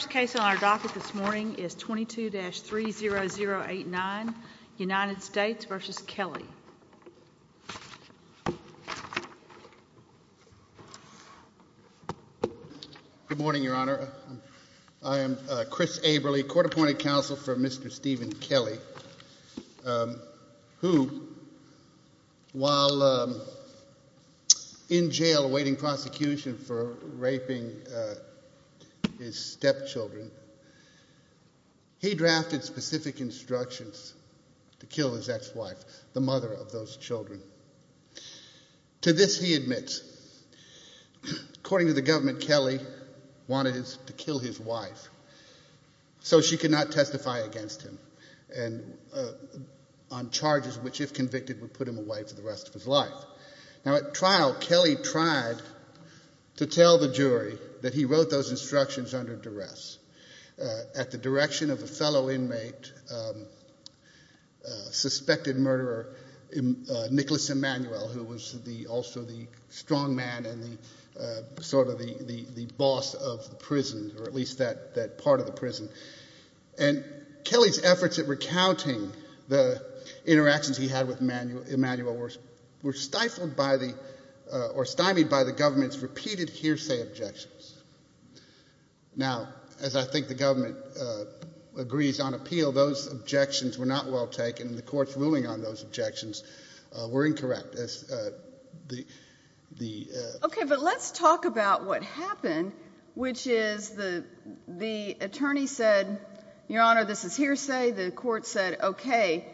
The first case on our docket this morning is 22-30089, United States v. Kelley. Good morning, Your Honor. I am Chris Averly, court-appointed counsel for Mr. Stephen Kelley, who, while in jail awaiting prosecution for raping his stepchildren, he drafted specific instructions to kill his ex-wife, the mother of those children. To this he admits, according to the government, Kelley wanted to kill his wife so she could not testify against him on charges which, if convicted, would put him away for the rest of his life. At trial, Kelley tried to tell the jury that he wrote those instructions under duress at the direction of a fellow inmate, suspected murderer Nicholas Emanuel, who was also the strongman and sort of the boss of the prison, or at least that part of the prison. And Kelley's efforts at recounting the interactions he had with Emanuel were stifled or stymied by the government's repeated hearsay objections. Now, as I think the government agrees on appeal, those objections were not well taken, and the court's ruling on those objections were incorrect. Okay, but let's talk about what happened, which is the attorney said, Your Honor, this is hearsay. The court said, okay,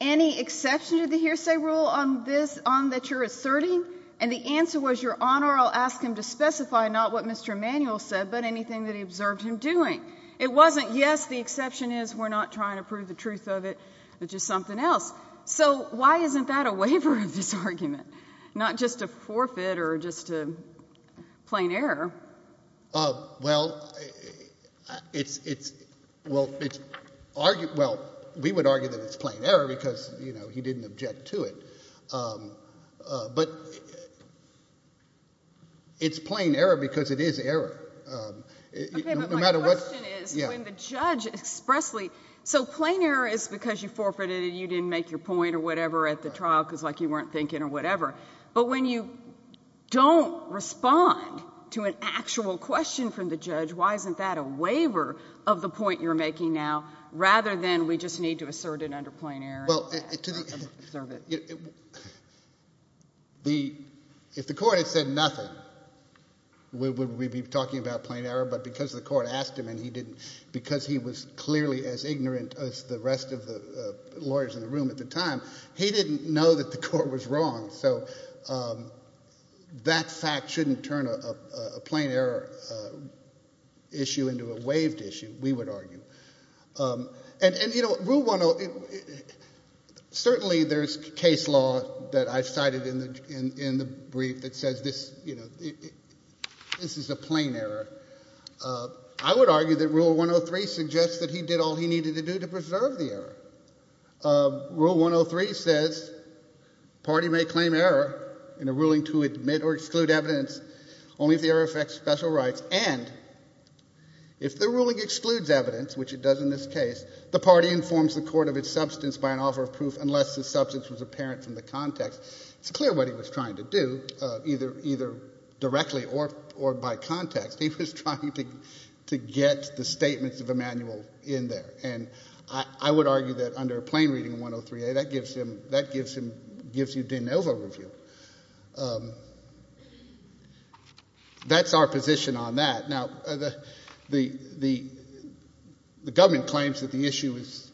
any exception to the hearsay rule on this, on that you're asserting? And the answer was, Your Honor, I'll ask him to specify not what Mr. Emanuel said, but anything that he observed him doing. It wasn't, yes, the exception is, we're not trying to prove the truth of it, which is something else. So why isn't that a waiver of this argument, not just a forfeit or just a plain error? Well, we would argue that it's plain error because he didn't object to it. But it's plain error because it is error. Okay, but my question is when the judge expressly, so plain error is because you forfeited and you didn't make your point or whatever at the trial because, like, you weren't thinking or whatever. But when you don't respond to an actual question from the judge, why isn't that a waiver of the point you're making now rather than we just need to assert it under plain error? Well, if the court had said nothing, would we be talking about plain error? But because the court asked him and he didn't, because he was clearly as ignorant as the rest of the lawyers in the room at the time, he didn't know that the court was wrong. So that fact shouldn't turn a plain error issue into a waived issue, we would argue. And, you know, Rule 103, certainly there's case law that I've cited in the brief that says this is a plain error. I would argue that Rule 103 suggests that he did all he needed to do to preserve the error. Rule 103 says party may claim error in a ruling to admit or exclude evidence only if the error affects special rights. And if the ruling excludes evidence, which it does in this case, the party informs the court of its substance by an offer of proof unless the substance was apparent from the context. It's clear what he was trying to do, either directly or by context. He was trying to get the statements of Emanuel in there. And I would argue that under a plain reading of 103A, that gives you de novo review. That's our position on that. Now, the government claims that the issue is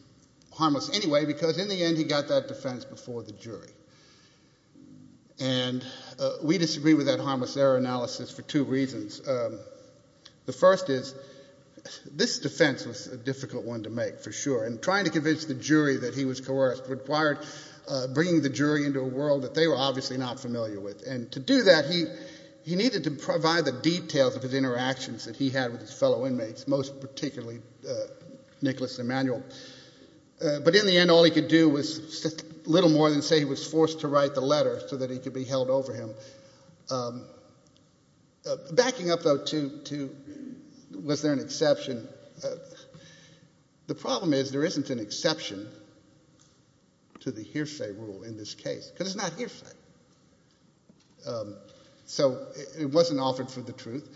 harmless anyway because in the end he got that defense before the jury. And we disagree with that harmless error analysis for two reasons. The first is this defense was a difficult one to make for sure. And trying to convince the jury that he was coerced required bringing the jury into a world that they were obviously not familiar with. And to do that, he needed to provide the details of his interactions that he had with his fellow inmates, most particularly Nicholas Emanuel. But in the end, all he could do was little more than say he was forced to write the letter so that he could be held over him. Backing up, though, to was there an exception, the problem is there isn't an exception to the hearsay rule in this case. Because it's not hearsay. So it wasn't offered for the truth.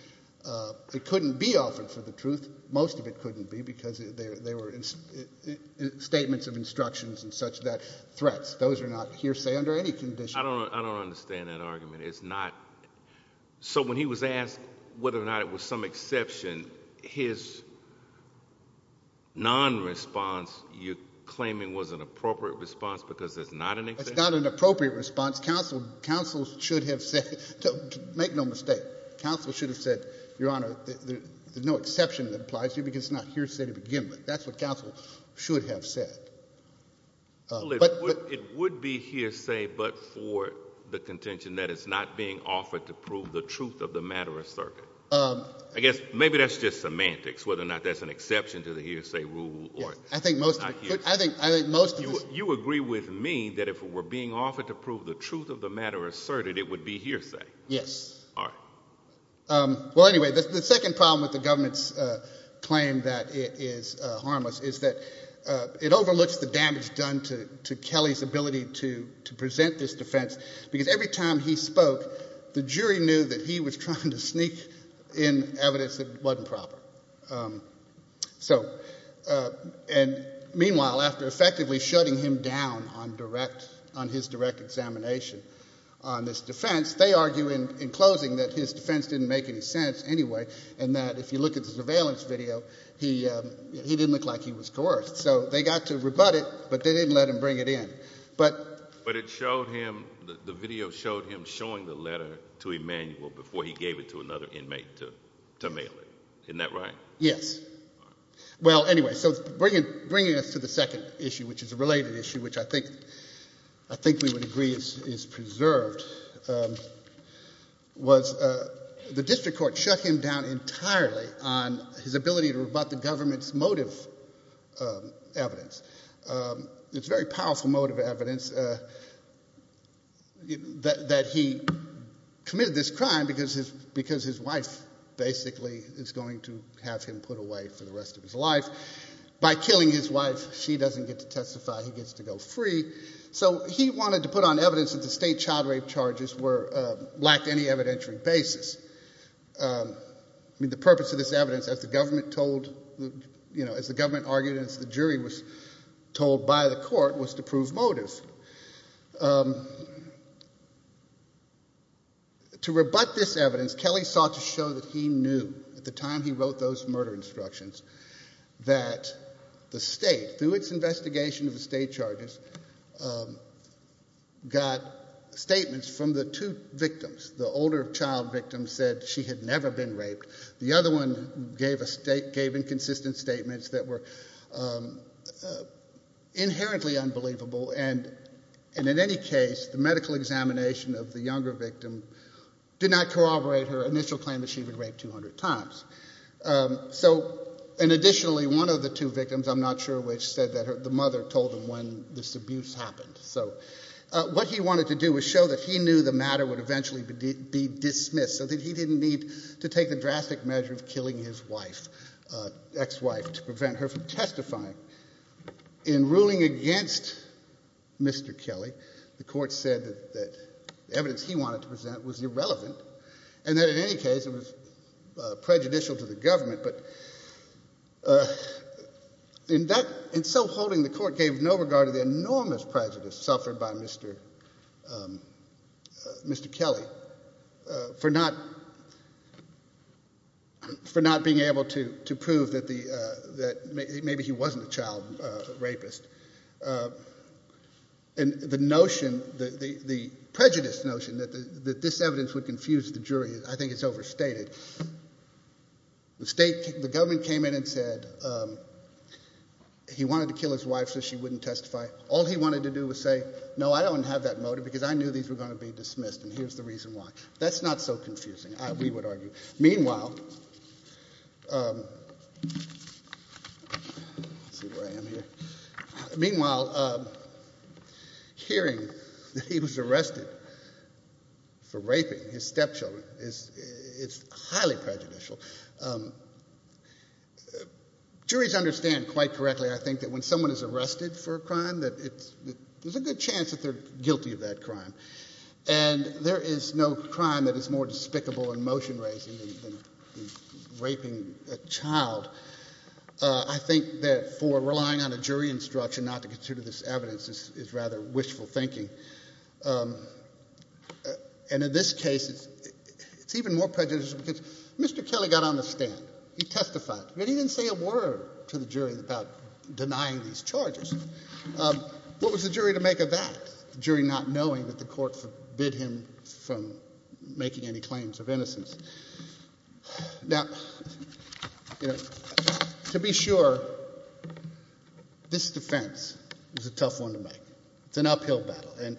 It couldn't be offered for the truth. Most of it couldn't be because they were statements of instructions and such threats. Those are not hearsay under any condition. I don't understand that argument. So when he was asked whether or not it was some exception, his non-response you're claiming was an appropriate response because it's not an exception? If it's not an appropriate response, counsel should have said, make no mistake, counsel should have said, Your Honor, there's no exception that applies here because it's not hearsay to begin with. That's what counsel should have said. But it would be hearsay but for the contention that it's not being offered to prove the truth of the matter of circuit. I guess maybe that's just semantics, whether or not that's an exception to the hearsay rule or not hearsay. You agree with me that if it were being offered to prove the truth of the matter asserted, it would be hearsay? Yes. All right. Well, anyway, the second problem with the government's claim that it is harmless is that it overlooks the damage done to Kelly's ability to present this defense because every time he spoke, the jury knew that he was trying to sneak in evidence that wasn't proper. And meanwhile, after effectively shutting him down on his direct examination on this defense, they argue in closing that his defense didn't make any sense anyway and that if you look at the surveillance video, he didn't look like he was coerced. So they got to rebut it, but they didn't let him bring it in. But it showed him, the video showed him showing the letter to Emmanuel before he gave it to another inmate to mail it. Isn't that right? Yes. All right. Well, anyway, so bringing us to the second issue, which is a related issue, which I think we would agree is preserved, was the district court shut him down entirely on his ability to rebut the government's motive evidence. It's very powerful motive evidence that he committed this crime because his wife basically is going to have him put away for the rest of his life. By killing his wife, she doesn't get to testify. He gets to go free. So he wanted to put on evidence that the state child rape charges lacked any evidentiary basis. I mean, the purpose of this evidence, as the government argued and as the jury was told by the court, was to prove motive. To rebut this evidence, Kelly sought to show that he knew at the time he wrote those murder instructions that the state, through its investigation of the state charges, got statements from the two victims. The older child victim said she had never been raped. The other one gave inconsistent statements that were inherently unbelievable. And in any case, the medical examination of the younger victim did not corroborate her initial claim that she had been raped 200 times. So, and additionally, one of the two victims, I'm not sure which, said that the mother told him when this abuse happened. So what he wanted to do was show that he knew the matter would eventually be dismissed, so that he didn't need to take the drastic measure of killing his wife, ex-wife, to prevent her from testifying. In ruling against Mr. Kelly, the court said that the evidence he wanted to present was irrelevant, and that in any case it was prejudicial to the government. But in so holding, the court gave no regard to the enormous prejudice suffered by Mr. Kelly for not being able to prove that maybe he wasn't a child rapist. And the notion, the prejudiced notion that this evidence would confuse the jury, I think it's overstated. The state, the government came in and said he wanted to kill his wife so she wouldn't testify. All he wanted to do was say, no, I don't have that motive, because I knew these were going to be dismissed, and here's the reason why. That's not so confusing, we would argue. Meanwhile, hearing that he was arrested for raping his stepchildren is highly prejudicial. Juries understand quite correctly, I think, that when someone is arrested for a crime, there's a good chance that they're guilty of that crime. And there is no crime that is more despicable in motion racing than raping a child. I think that for relying on a jury instruction not to consider this evidence is rather wishful thinking. And in this case, it's even more prejudicial because Mr. Kelly got on the stand. He testified, but he didn't say a word to the jury about denying these charges. What was the jury to make of that? The jury not knowing that the court forbid him from making any claims of innocence. Now, to be sure, this defense is a tough one to make. It's an uphill battle. And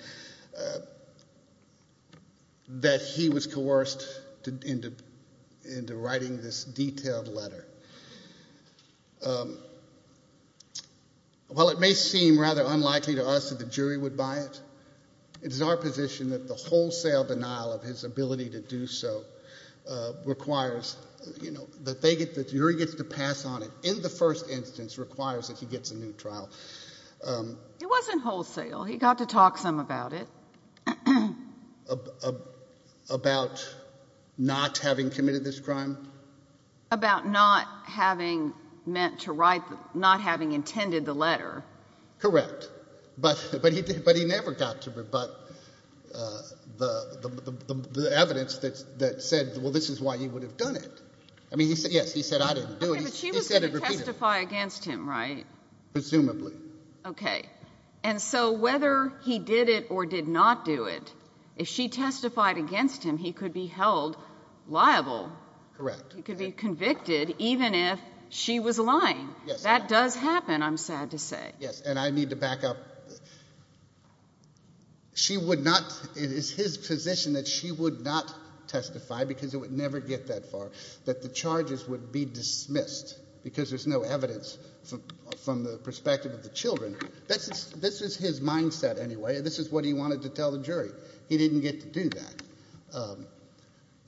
that he was coerced into writing this detailed letter. While it may seem rather unlikely to us that the jury would buy it, it is our position that the wholesale denial of his ability to do so requires, that the jury gets to pass on it in the first instance requires that he gets a new trial. It wasn't wholesale. He got to talk some about it. About not having committed this crime? About not having meant to write, not having intended the letter. Correct. But he never got to rebut the evidence that said, well, this is why he would have done it. I mean, yes, he said, I didn't do it. Okay, but she was going to testify against him, right? Presumably. Okay. And so whether he did it or did not do it, if she testified against him, he could be held liable. Correct. He could be convicted even if she was lying. That does happen, I'm sad to say. Yes, and I need to back up. She would not, it is his position that she would not testify because it would never get that far, that the charges would be dismissed because there's no evidence from the perspective of the children. This is his mindset anyway. This is what he wanted to tell the jury. He didn't get to do that.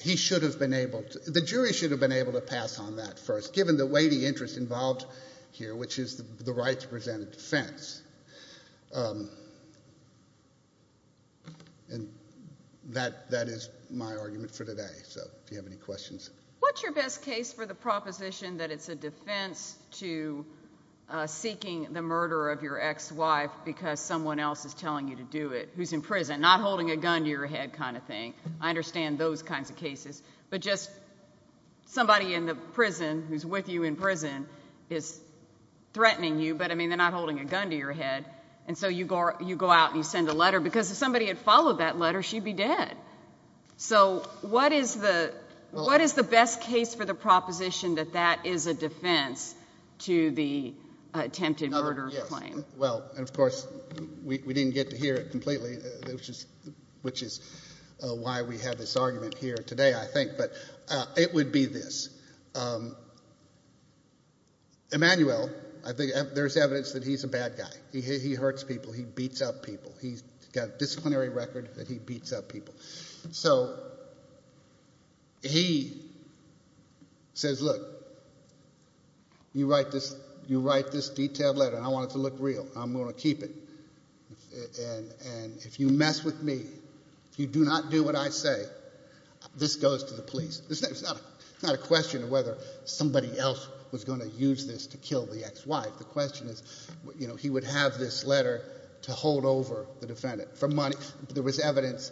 He should have been able to, the jury should have been able to pass on that first, given the weighty interest involved here, which is the right to present a defense. And that is my argument for today. So if you have any questions. What's your best case for the proposition that it's a defense to seeking the murder of your ex-wife because someone else is telling you to do it, who's in prison, not holding a gun to your head kind of thing? I understand those kinds of cases. But just somebody in the prison who's with you in prison is threatening you, but, I mean, they're not holding a gun to your head. And so you go out and you send a letter because if somebody had followed that letter, she'd be dead. So what is the best case for the proposition that that is a defense to the attempted murder claim? Well, and, of course, we didn't get to hear it completely, which is why we have this argument here today, I think. But it would be this. Emmanuel, there's evidence that he's a bad guy. He hurts people. He beats up people. He's got a disciplinary record that he beats up people. So he says, look, you write this detailed letter and I want it to look real. I'm going to keep it. And if you mess with me, if you do not do what I say, this goes to the police. It's not a question of whether somebody else was going to use this to kill the ex-wife. The question is, you know, he would have this letter to hold over the defendant for money. There was evidence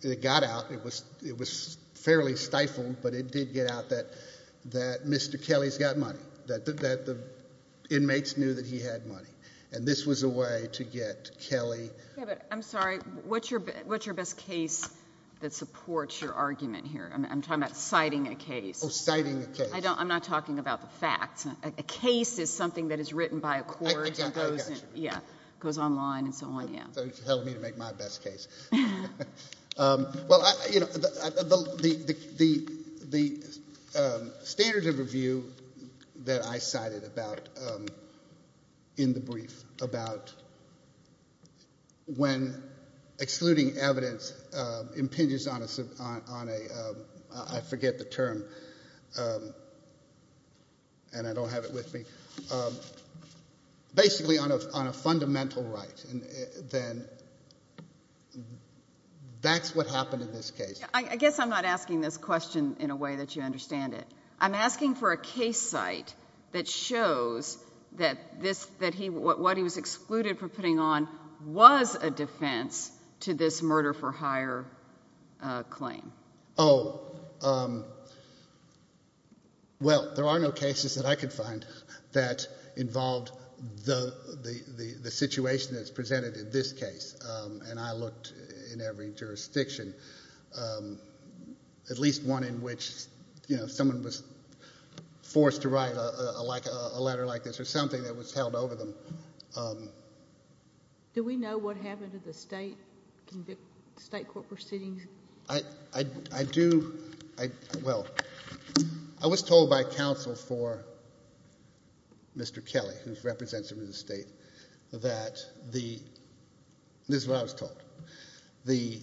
that got out. It was fairly stifled, but it did get out that Mr. Kelly's got money, that the inmates knew that he had money. And this was a way to get Kelly. Yeah, but I'm sorry. What's your best case that supports your argument here? I'm talking about citing a case. Oh, citing a case. I'm not talking about the facts. A case is something that is written by a court. I got you. Yeah. It goes online and so on. So you're telling me to make my best case. Well, you know, the standard of review that I cited in the brief about when excluding evidence impinges on a, I forget the term, and I don't have it with me, basically on a fundamental right, then that's what happened in this case. I guess I'm not asking this question in a way that you understand it. I'm asking for a case site that shows that what he was excluded from putting on was a defense to this murder-for-hire claim. Oh, well, there are no cases that I could find that involved the situation that's presented in this case, and I looked in every jurisdiction, at least one in which, you know, someone was forced to write a letter like this or something that was held over them. Do we know what happened to the state court proceedings? I do. Well, I was told by counsel for Mr. Kelly, who's representative of the state, that the, this is what I was told, the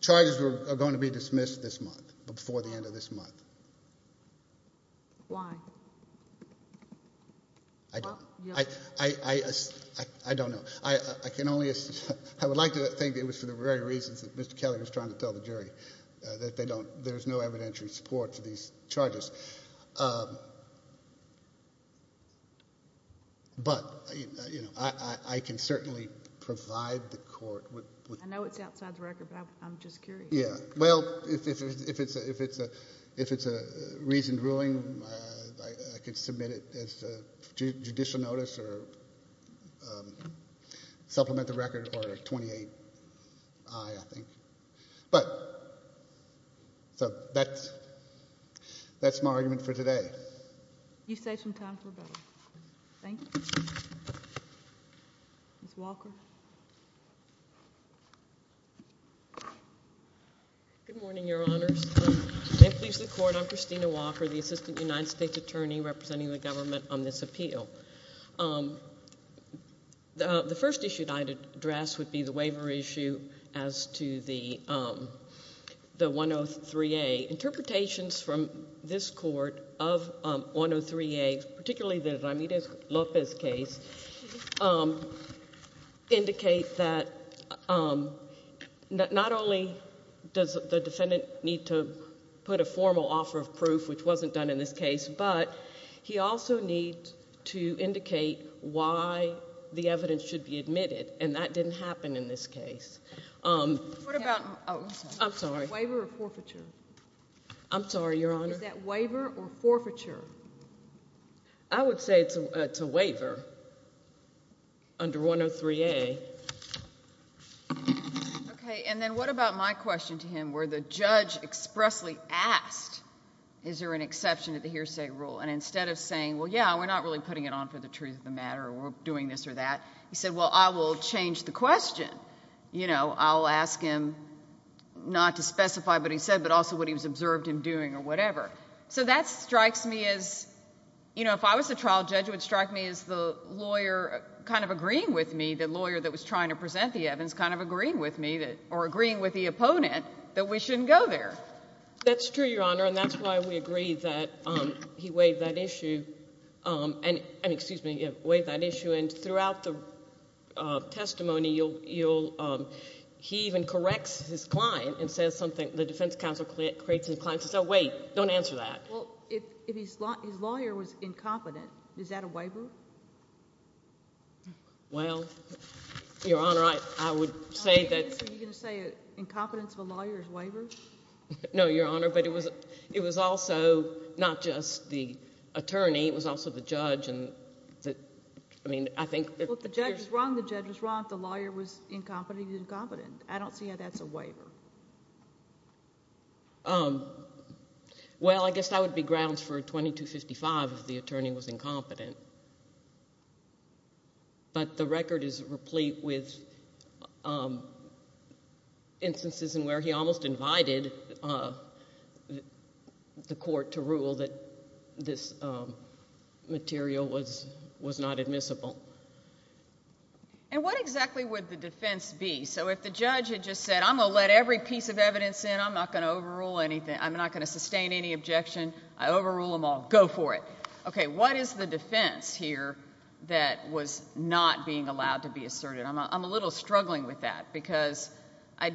charges are going to be dismissed this month, before the end of this month. Why? I don't know. I can only, I would like to think it was for the very reasons that Mr. Kelly was trying to tell the jury, that they don't, there's no evidentiary support for these charges. But, you know, I can certainly provide the court with. I know it's outside the record, but I'm just curious. Yeah. Well, if it's a reasoned ruling, I could submit it as a judicial notice or supplement the record or 28-I, I think. But, so that's my argument for today. You saved some time for the bill. Thank you. Ms. Walker. Good morning, Your Honors. May it please the Court, I'm Christina Walker, the Assistant United States Attorney representing the government on this appeal. The first issue that I'd address would be the waiver issue as to the 103A. Interpretations from this Court of 103A, particularly the Ramirez-Lopez case, indicate that not only does the defendant need to put a formal offer of proof, which wasn't done in this case, but he also needs to indicate why the evidence should be admitted, and that didn't happen in this case. What about, oh, I'm sorry. Waiver or forfeiture? I'm sorry, Your Honor. Is that waiver or forfeiture? I would say it's a waiver under 103A. Okay, and then what about my question to him where the judge expressly asked, is there an exception to the hearsay rule? And instead of saying, well, yeah, we're not really putting it on for the truth of the matter or we're doing this or that, he said, well, I will change the question. I'll ask him not to specify what he said but also what he observed him doing or whatever. So that strikes me as, if I was the trial judge, it would strike me as the lawyer kind of agreeing with me, the lawyer that was trying to present the evidence kind of agreeing with me or agreeing with the opponent that we shouldn't go there. That's true, Your Honor, and that's why we agree that he waived that issue. And, excuse me, yeah, waived that issue. And throughout the testimony, he even corrects his client and says something, the defense counsel corrects his client and says, oh, wait, don't answer that. Well, if his lawyer was incompetent, is that a waiver? Well, Your Honor, I would say that. Are you going to say incompetence of a lawyer is a waiver? No, Your Honor, but it was also not just the attorney. It was also the judge. I mean, I think that there's – Well, if the judge is wrong, the judge is wrong. If the lawyer was incompetent, he's incompetent. I don't see how that's a waiver. Well, I guess that would be grounds for 2255 if the attorney was incompetent. But the record is replete with instances in where he almost invited the court to rule that this material was not admissible. And what exactly would the defense be? So if the judge had just said, I'm going to let every piece of evidence in. I'm not going to overrule anything. I'm not going to sustain any objection. I overrule them all. Go for it. Okay, what is the defense here that was not being allowed to be asserted? I'm a little struggling with that because I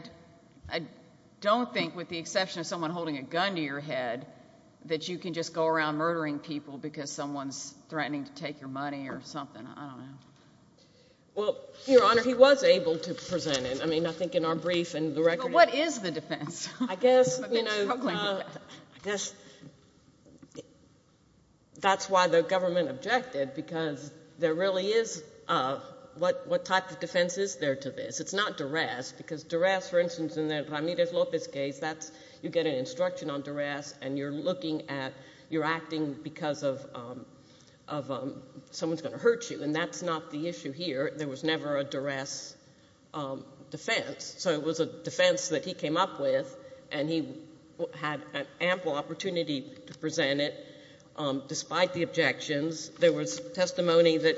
don't think, with the exception of someone holding a gun to your head, that you can just go around murdering people because someone's threatening to take your money or something. I don't know. Well, Your Honor, he was able to present it. I mean, I think in our brief and the record. But what is the defense? I guess, you know, I guess that's why the government objected because there really is what type of defense is there to this? It's not duress because duress, for instance, in the Ramirez-Lopez case, you get an instruction on duress, and you're looking at, you're acting because someone's going to hurt you, and that's not the issue here. There was never a duress defense. So it was a defense that he came up with, and he had an ample opportunity to present it despite the objections. There was testimony that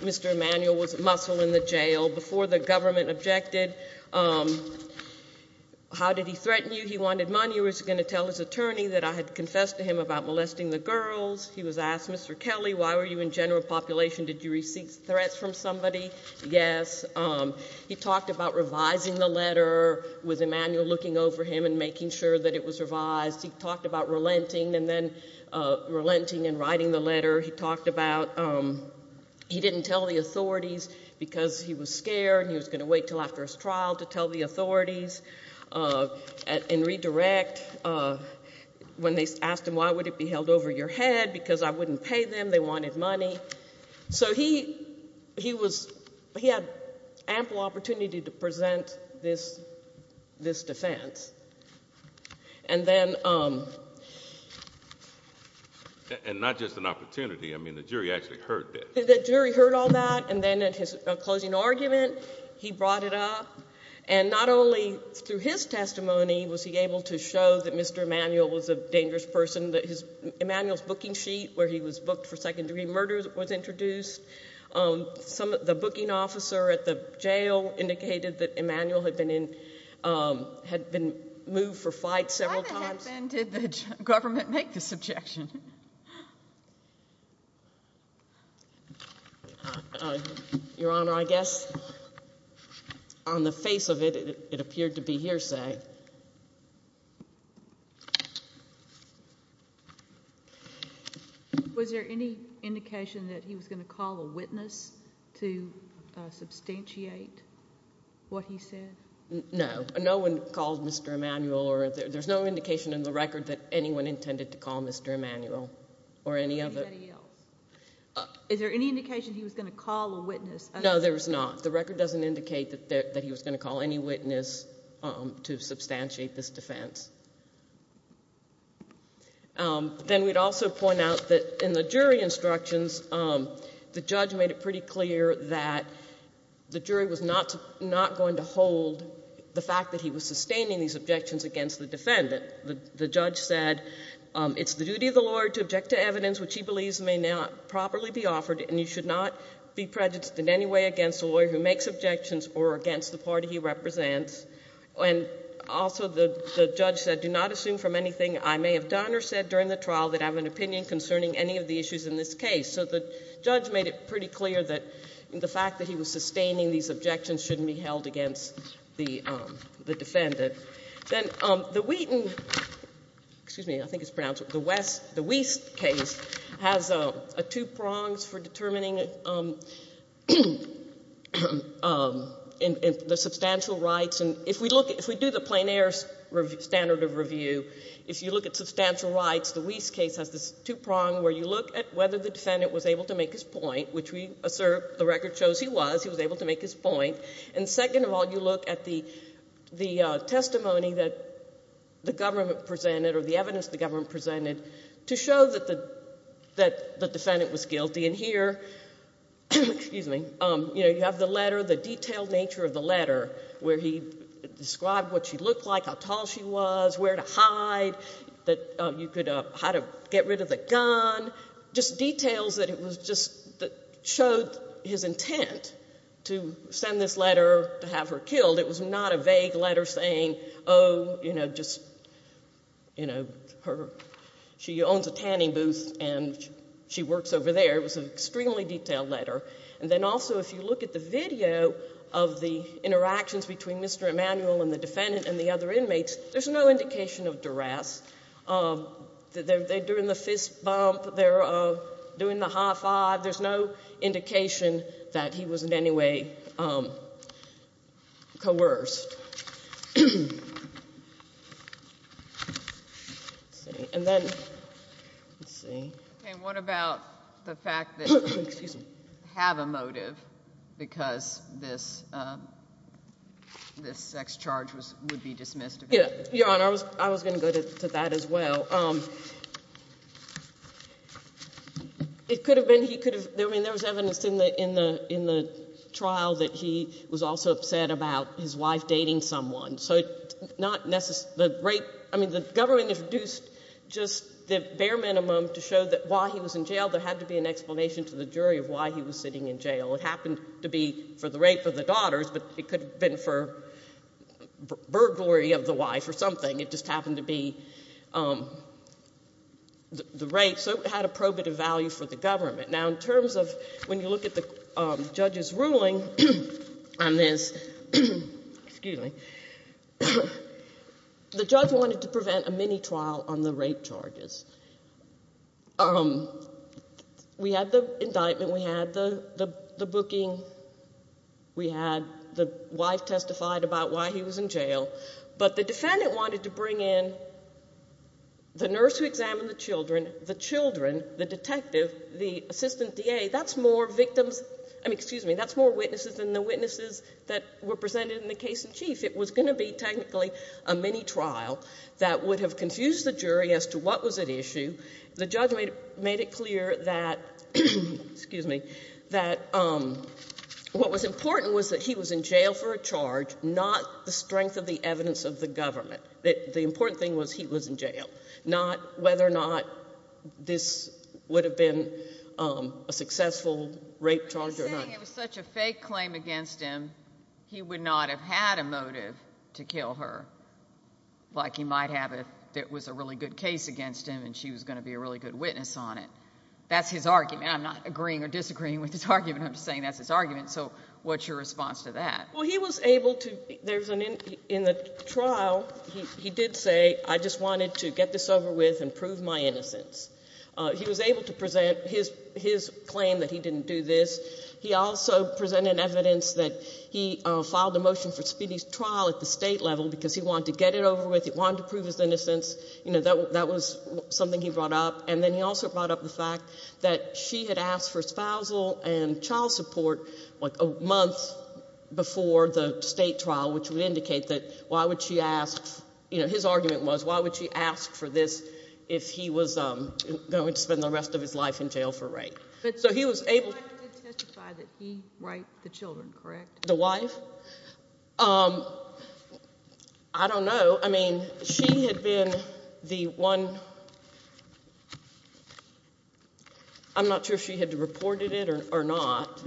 Mr. Emanuel was a muscle in the jail before the government objected. How did he threaten you? He wanted money. He was going to tell his attorney that I had confessed to him about molesting the girls. He was asked, Mr. Kelly, why were you in general population? Did you receive threats from somebody? Yes. He talked about revising the letter with Emanuel looking over him and making sure that it was revised. He talked about relenting and then relenting and writing the letter. He talked about he didn't tell the authorities because he was scared, and he was going to wait until after his trial to tell the authorities and redirect. When they asked him, why would it be held over your head? Because I wouldn't pay them. They wanted money. So he had ample opportunity to present this defense. And then— And not just an opportunity. I mean, the jury actually heard this. The jury heard all that. And then at his closing argument, he brought it up. And not only through his testimony was he able to show that Mr. Emanuel was a dangerous person, that Emanuel's booking sheet where he was booked for second-degree murder was introduced. The booking officer at the jail indicated that Emanuel had been moved for flight several times. When did the government make this objection? Your Honor, I guess on the face of it, it appeared to be hearsay. Was there any indication that he was going to call a witness to substantiate what he said? No. No one called Mr. Emanuel, or there's no indication in the record that anyone intended to call Mr. Emanuel or any of it. Anybody else? Is there any indication he was going to call a witness? No, there is not. The record doesn't indicate that he was going to call any witness to substantiate this defense. Then we'd also point out that in the jury instructions, the judge made it pretty clear that the jury was not going to hold the fact that he was sustaining these objections against the defendant. The judge said it's the duty of the lawyer to object to evidence which he believes may not properly be offered, and you should not be prejudiced in any way against a lawyer who makes objections or against the party he represents. And also the judge said do not assume from anything I may have done or said during the trial that I have an opinion concerning any of the issues in this case. So the judge made it pretty clear that the fact that he was sustaining these objections shouldn't be held against the defendant. Then the Wheaton, excuse me, I think it's pronounced the West, the Wiest case has two prongs for determining the substantial rights. And if we look, if we do the plein air standard of review, if you look at substantial rights, the Wiest case has this two prong where you look at whether the defendant was able to make his point, which we assert the record shows he was. He was able to make his point. And second of all, you look at the testimony that the government presented or the evidence the government presented to show that the defendant was guilty. And here, excuse me, you have the letter, the detailed nature of the letter where he described what she looked like, how tall she was, where to hide, how to get rid of the gun, just details that showed his intent to send this letter to have her killed. It was not a vague letter saying, oh, you know, she owns a tanning booth and she works over there. It was an extremely detailed letter. And then also if you look at the video of the interactions between Mr. Emanuel and the defendant and the other inmates, there's no indication of duress. They're doing the fist bump. They're doing the high five. There's no indication that he was in any way coerced. And then let's see. Okay, what about the fact that you have a motive because this sex charge would be dismissed? Yeah, Your Honor, I was going to go to that as well. It could have been he could have ‑‑I mean, there was evidence in the trial that he was also upset about his wife dating someone. I mean, the government introduced just the bare minimum to show that while he was in jail, there had to be an explanation to the jury of why he was sitting in jail. It happened to be for the rape of the daughters, but it could have been for burglary of the wife or something. It just happened to be the rape. So it had a probative value for the government. Now, in terms of when you look at the judge's ruling on this, excuse me, the judge wanted to prevent a mini trial on the rape charges. We had the indictment. We had the booking. We had the wife testified about why he was in jail. But the defendant wanted to bring in the nurse who examined the children, the children, the detective, the assistant DA. That's more victims ‑‑ I mean, excuse me, that's more witnesses than the witnesses that were presented in the case in chief. It was going to be technically a mini trial that would have confused the jury as to what was at issue. The judge made it clear that, excuse me, that what was important was that he was in jail for a charge, not the strength of the evidence of the government, that the important thing was he was in jail, not whether or not this would have been a successful rape charge or not. You're saying it was such a fake claim against him, he would not have had a motive to kill her, like he might have if it was a really good case against him and she was going to be a really good witness on it. That's his argument. I'm not agreeing or disagreeing with his argument. I'm just saying that's his argument. So what's your response to that? Well, he was able to ‑‑ in the trial, he did say, I just wanted to get this over with and prove my innocence. He was able to present his claim that he didn't do this. He also presented evidence that he filed a motion for speedy trial at the state level because he wanted to get it over with. He wanted to prove his innocence. That was something he brought up. And then he also brought up the fact that she had asked for spousal and child support like a month before the state trial, which would indicate that why would she ask, you know, his argument was, why would she ask for this if he was going to spend the rest of his life in jail for rape? So he was able to ‑‑ But his wife did testify that he raped the children, correct? The wife? I don't know. So, I mean, she had been the one ‑‑ I'm not sure if she had reported it or not,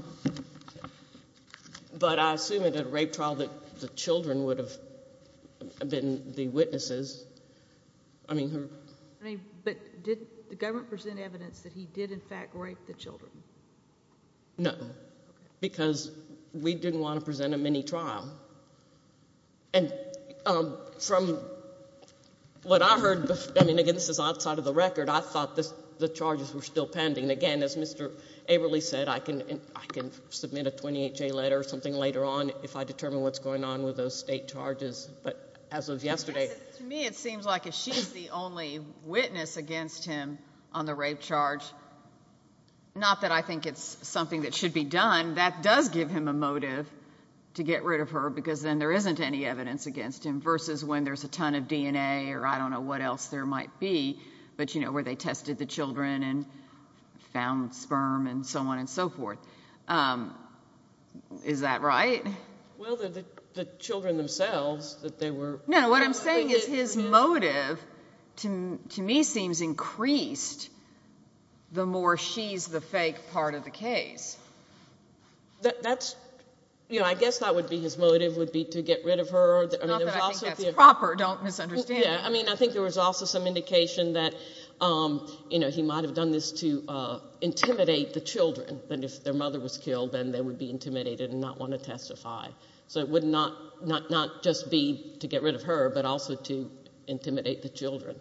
but I assume at a rape trial that the children would have been the witnesses. I mean ‑‑ But did the government present evidence that he did, in fact, rape the children? No, because we didn't want to present him any trial. And from what I heard, I mean, again, this is outside of the record, I thought the charges were still pending. Again, as Mr. Averly said, I can submit a 28‑J letter or something later on if I determine what's going on with those state charges. But as of yesterday ‑‑ To me, it seems like if she's the only witness against him on the rape charge, not that I think it's something that should be done, that does give him a motive to get rid of her because then there isn't any evidence against him versus when there's a ton of DNA or I don't know what else there might be, but, you know, where they tested the children and found sperm and so on and so forth. Is that right? Well, the children themselves, that they were ‑‑ No, what I'm saying is his motive to me seems increased the more she's the fake part of the case. That's ‑‑ you know, I guess that would be his motive, would be to get rid of her. Not that I think that's proper, don't misunderstand. Yeah, I mean, I think there was also some indication that, you know, he might have done this to intimidate the children that if their mother was killed, then they would be intimidated and not want to testify. So it would not just be to get rid of her, but also to intimidate the children.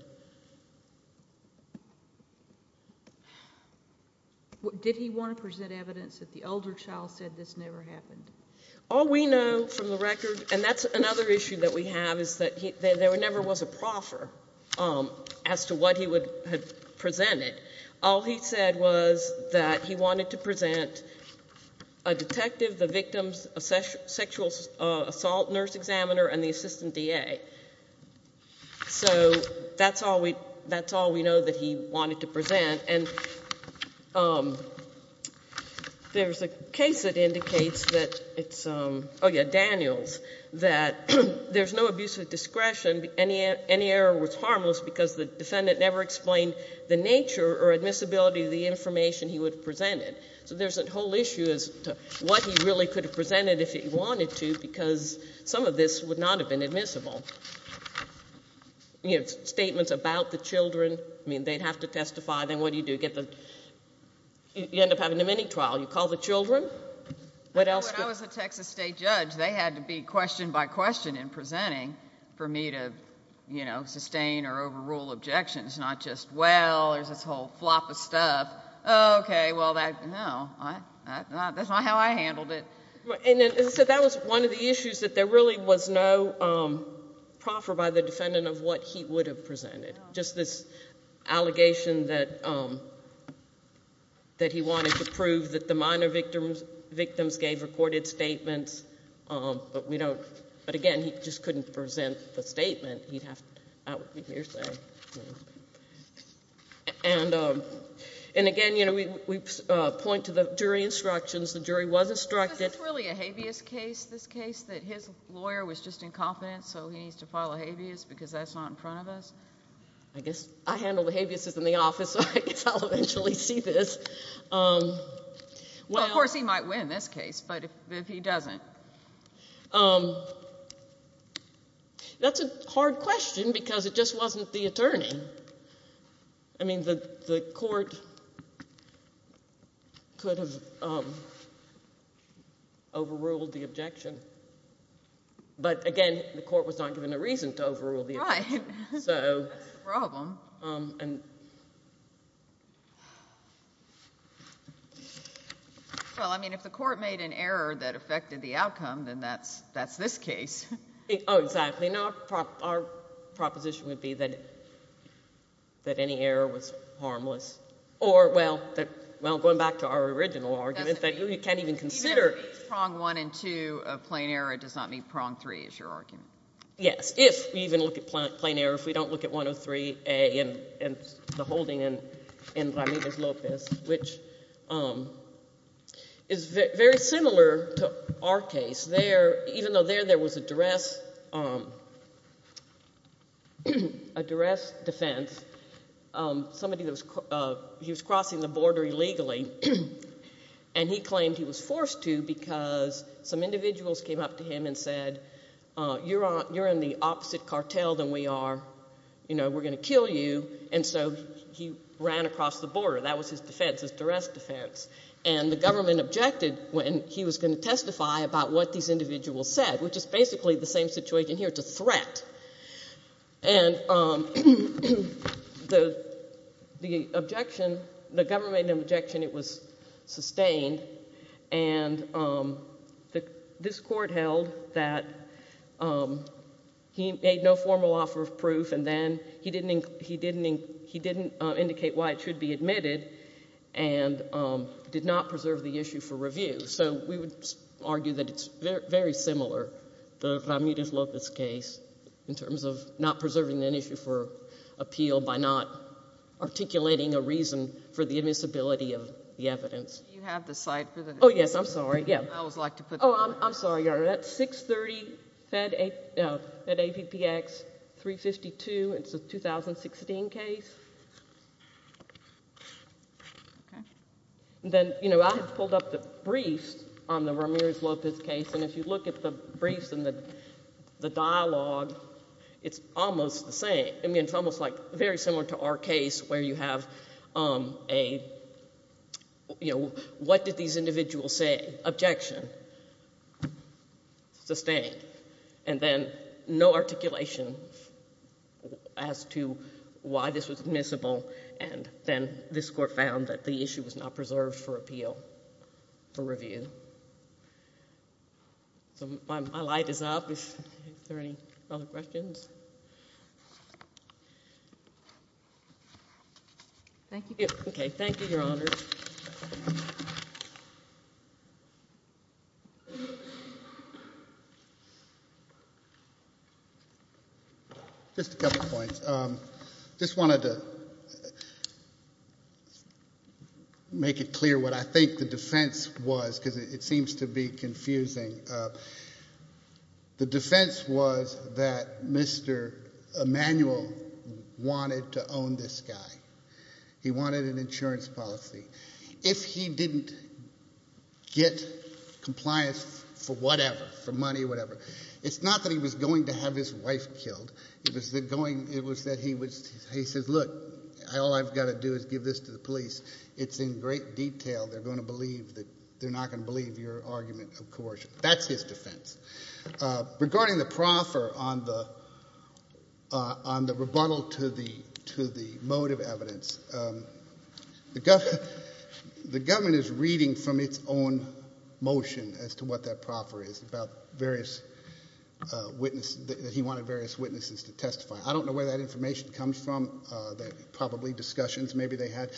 Did he want to present evidence that the elder child said this never happened? All we know from the record, and that's another issue that we have, is that there never was a proffer as to what he had presented. All he said was that he wanted to present a detective, the victim's sexual assault nurse examiner, and the assistant DA. So that's all we know that he wanted to present. And there's a case that indicates that it's ‑‑ oh, yeah, Daniels, that there's no abuse of discretion, any error was harmless because the defendant never explained the nature or admissibility of the information he would have presented. So there's a whole issue as to what he really could have presented if he wanted to because some of this would not have been admissible. You have statements about the children. I mean, they'd have to testify. Then what do you do? You end up having a mini trial. You call the children. When I was a Texas state judge, they had to be question by question in presenting for me to sustain or overrule objections, not just, well, there's this whole flop of stuff. Okay, well, no, that's not how I handled it. And so that was one of the issues, that there really was no proffer by the defendant of what he would have presented, just this allegation that he wanted to prove that the minor victims gave recorded statements. But, again, he just couldn't present the statement. He'd have to ‑‑ And, again, you know, we point to the jury instructions. The jury was instructed. Is this really a habeas case, this case, that his lawyer was just incompetent so he needs to file a habeas because that's not in front of us? I guess I handle the habeases in the office, so I guess I'll eventually see this. Well, of course, he might win this case, but if he doesn't. That's a hard question because it just wasn't the attorney. I mean, the court could have overruled the objection. But, again, the court was not given a reason to overrule the objection. Right. That's the problem. Well, I mean, if the court made an error that affected the outcome, then that's this case. Oh, exactly. No, our proposition would be that any error was harmless. Or, well, going back to our original argument, that you can't even consider ‑‑ Even if it's prong one and two of plain error, it does not mean prong three is your argument. Yes, if we even look at plain error, if we don't look at 103A and the holding in Ramirez-Lopez, which is very similar to our case. Even though there was a duress defense, he was crossing the border illegally, and he claimed he was forced to because some individuals came up to him and said, you're in the opposite cartel than we are. You know, we're going to kill you. And so he ran across the border. That was his defense, his duress defense. And the government objected when he was going to testify about what these individuals said, which is basically the same situation here, it's a threat. And the objection, the government made an objection. It was sustained. And this court held that he made no formal offer of proof, and then he didn't indicate why it should be admitted. And did not preserve the issue for review. So we would argue that it's very similar, the Ramirez-Lopez case, in terms of not preserving an issue for appeal by not articulating a reason for the admissibility of the evidence. Do you have the site for the case? Oh, yes, I'm sorry. I always like to put that up. Oh, I'm sorry, Your Honor. That's 630 Fed APPX 352. It's a 2016 case. Okay. Then, you know, I have pulled up the briefs on the Ramirez-Lopez case, and if you look at the briefs and the dialogue, it's almost the same. I mean, it's almost like very similar to our case where you have a, you know, what did these individuals say? Objection. Sustained. And then no articulation as to why this was admissible, and then this court found that the issue was not preserved for appeal, for review. So my light is up. Is there any other questions? Thank you. Okay. Thank you, Your Honor. Just a couple points. Just wanted to make it clear what I think the defense was, because it seems to be confusing. The defense was that Mr. Emanuel wanted to own this guy. He wanted an insurance policy. If he didn't get compliance for whatever, for money, whatever, it's not that he was going to have his wife killed. It was that he said, look, all I've got to do is give this to the police. It's in great detail. They're not going to believe your argument of coercion. That's his defense. Regarding the proffer on the rebuttal to the motive evidence, the government is reading from its own motion as to what that proffer is, that he wanted various witnesses to testify. I don't know where that information comes from. Probably discussions maybe they had.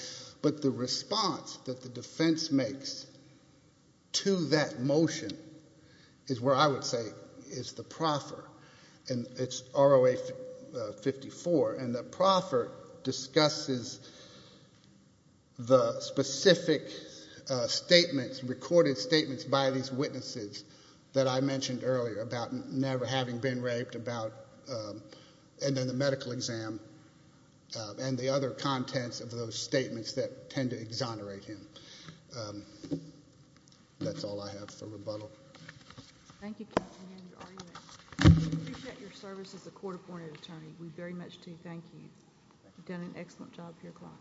But the response that the defense makes to that motion is where I would say is the proffer. And it's ROA 54. And the proffer discusses the specific statements, recorded statements by these witnesses that I mentioned earlier about never having been raped, and then the medical exam and the other contents of those statements that tend to exonerate him. That's all I have for rebuttal. Thank you. We appreciate your service as a court-appointed attorney. We very much do. Thank you. You've done an excellent job here, Clyde.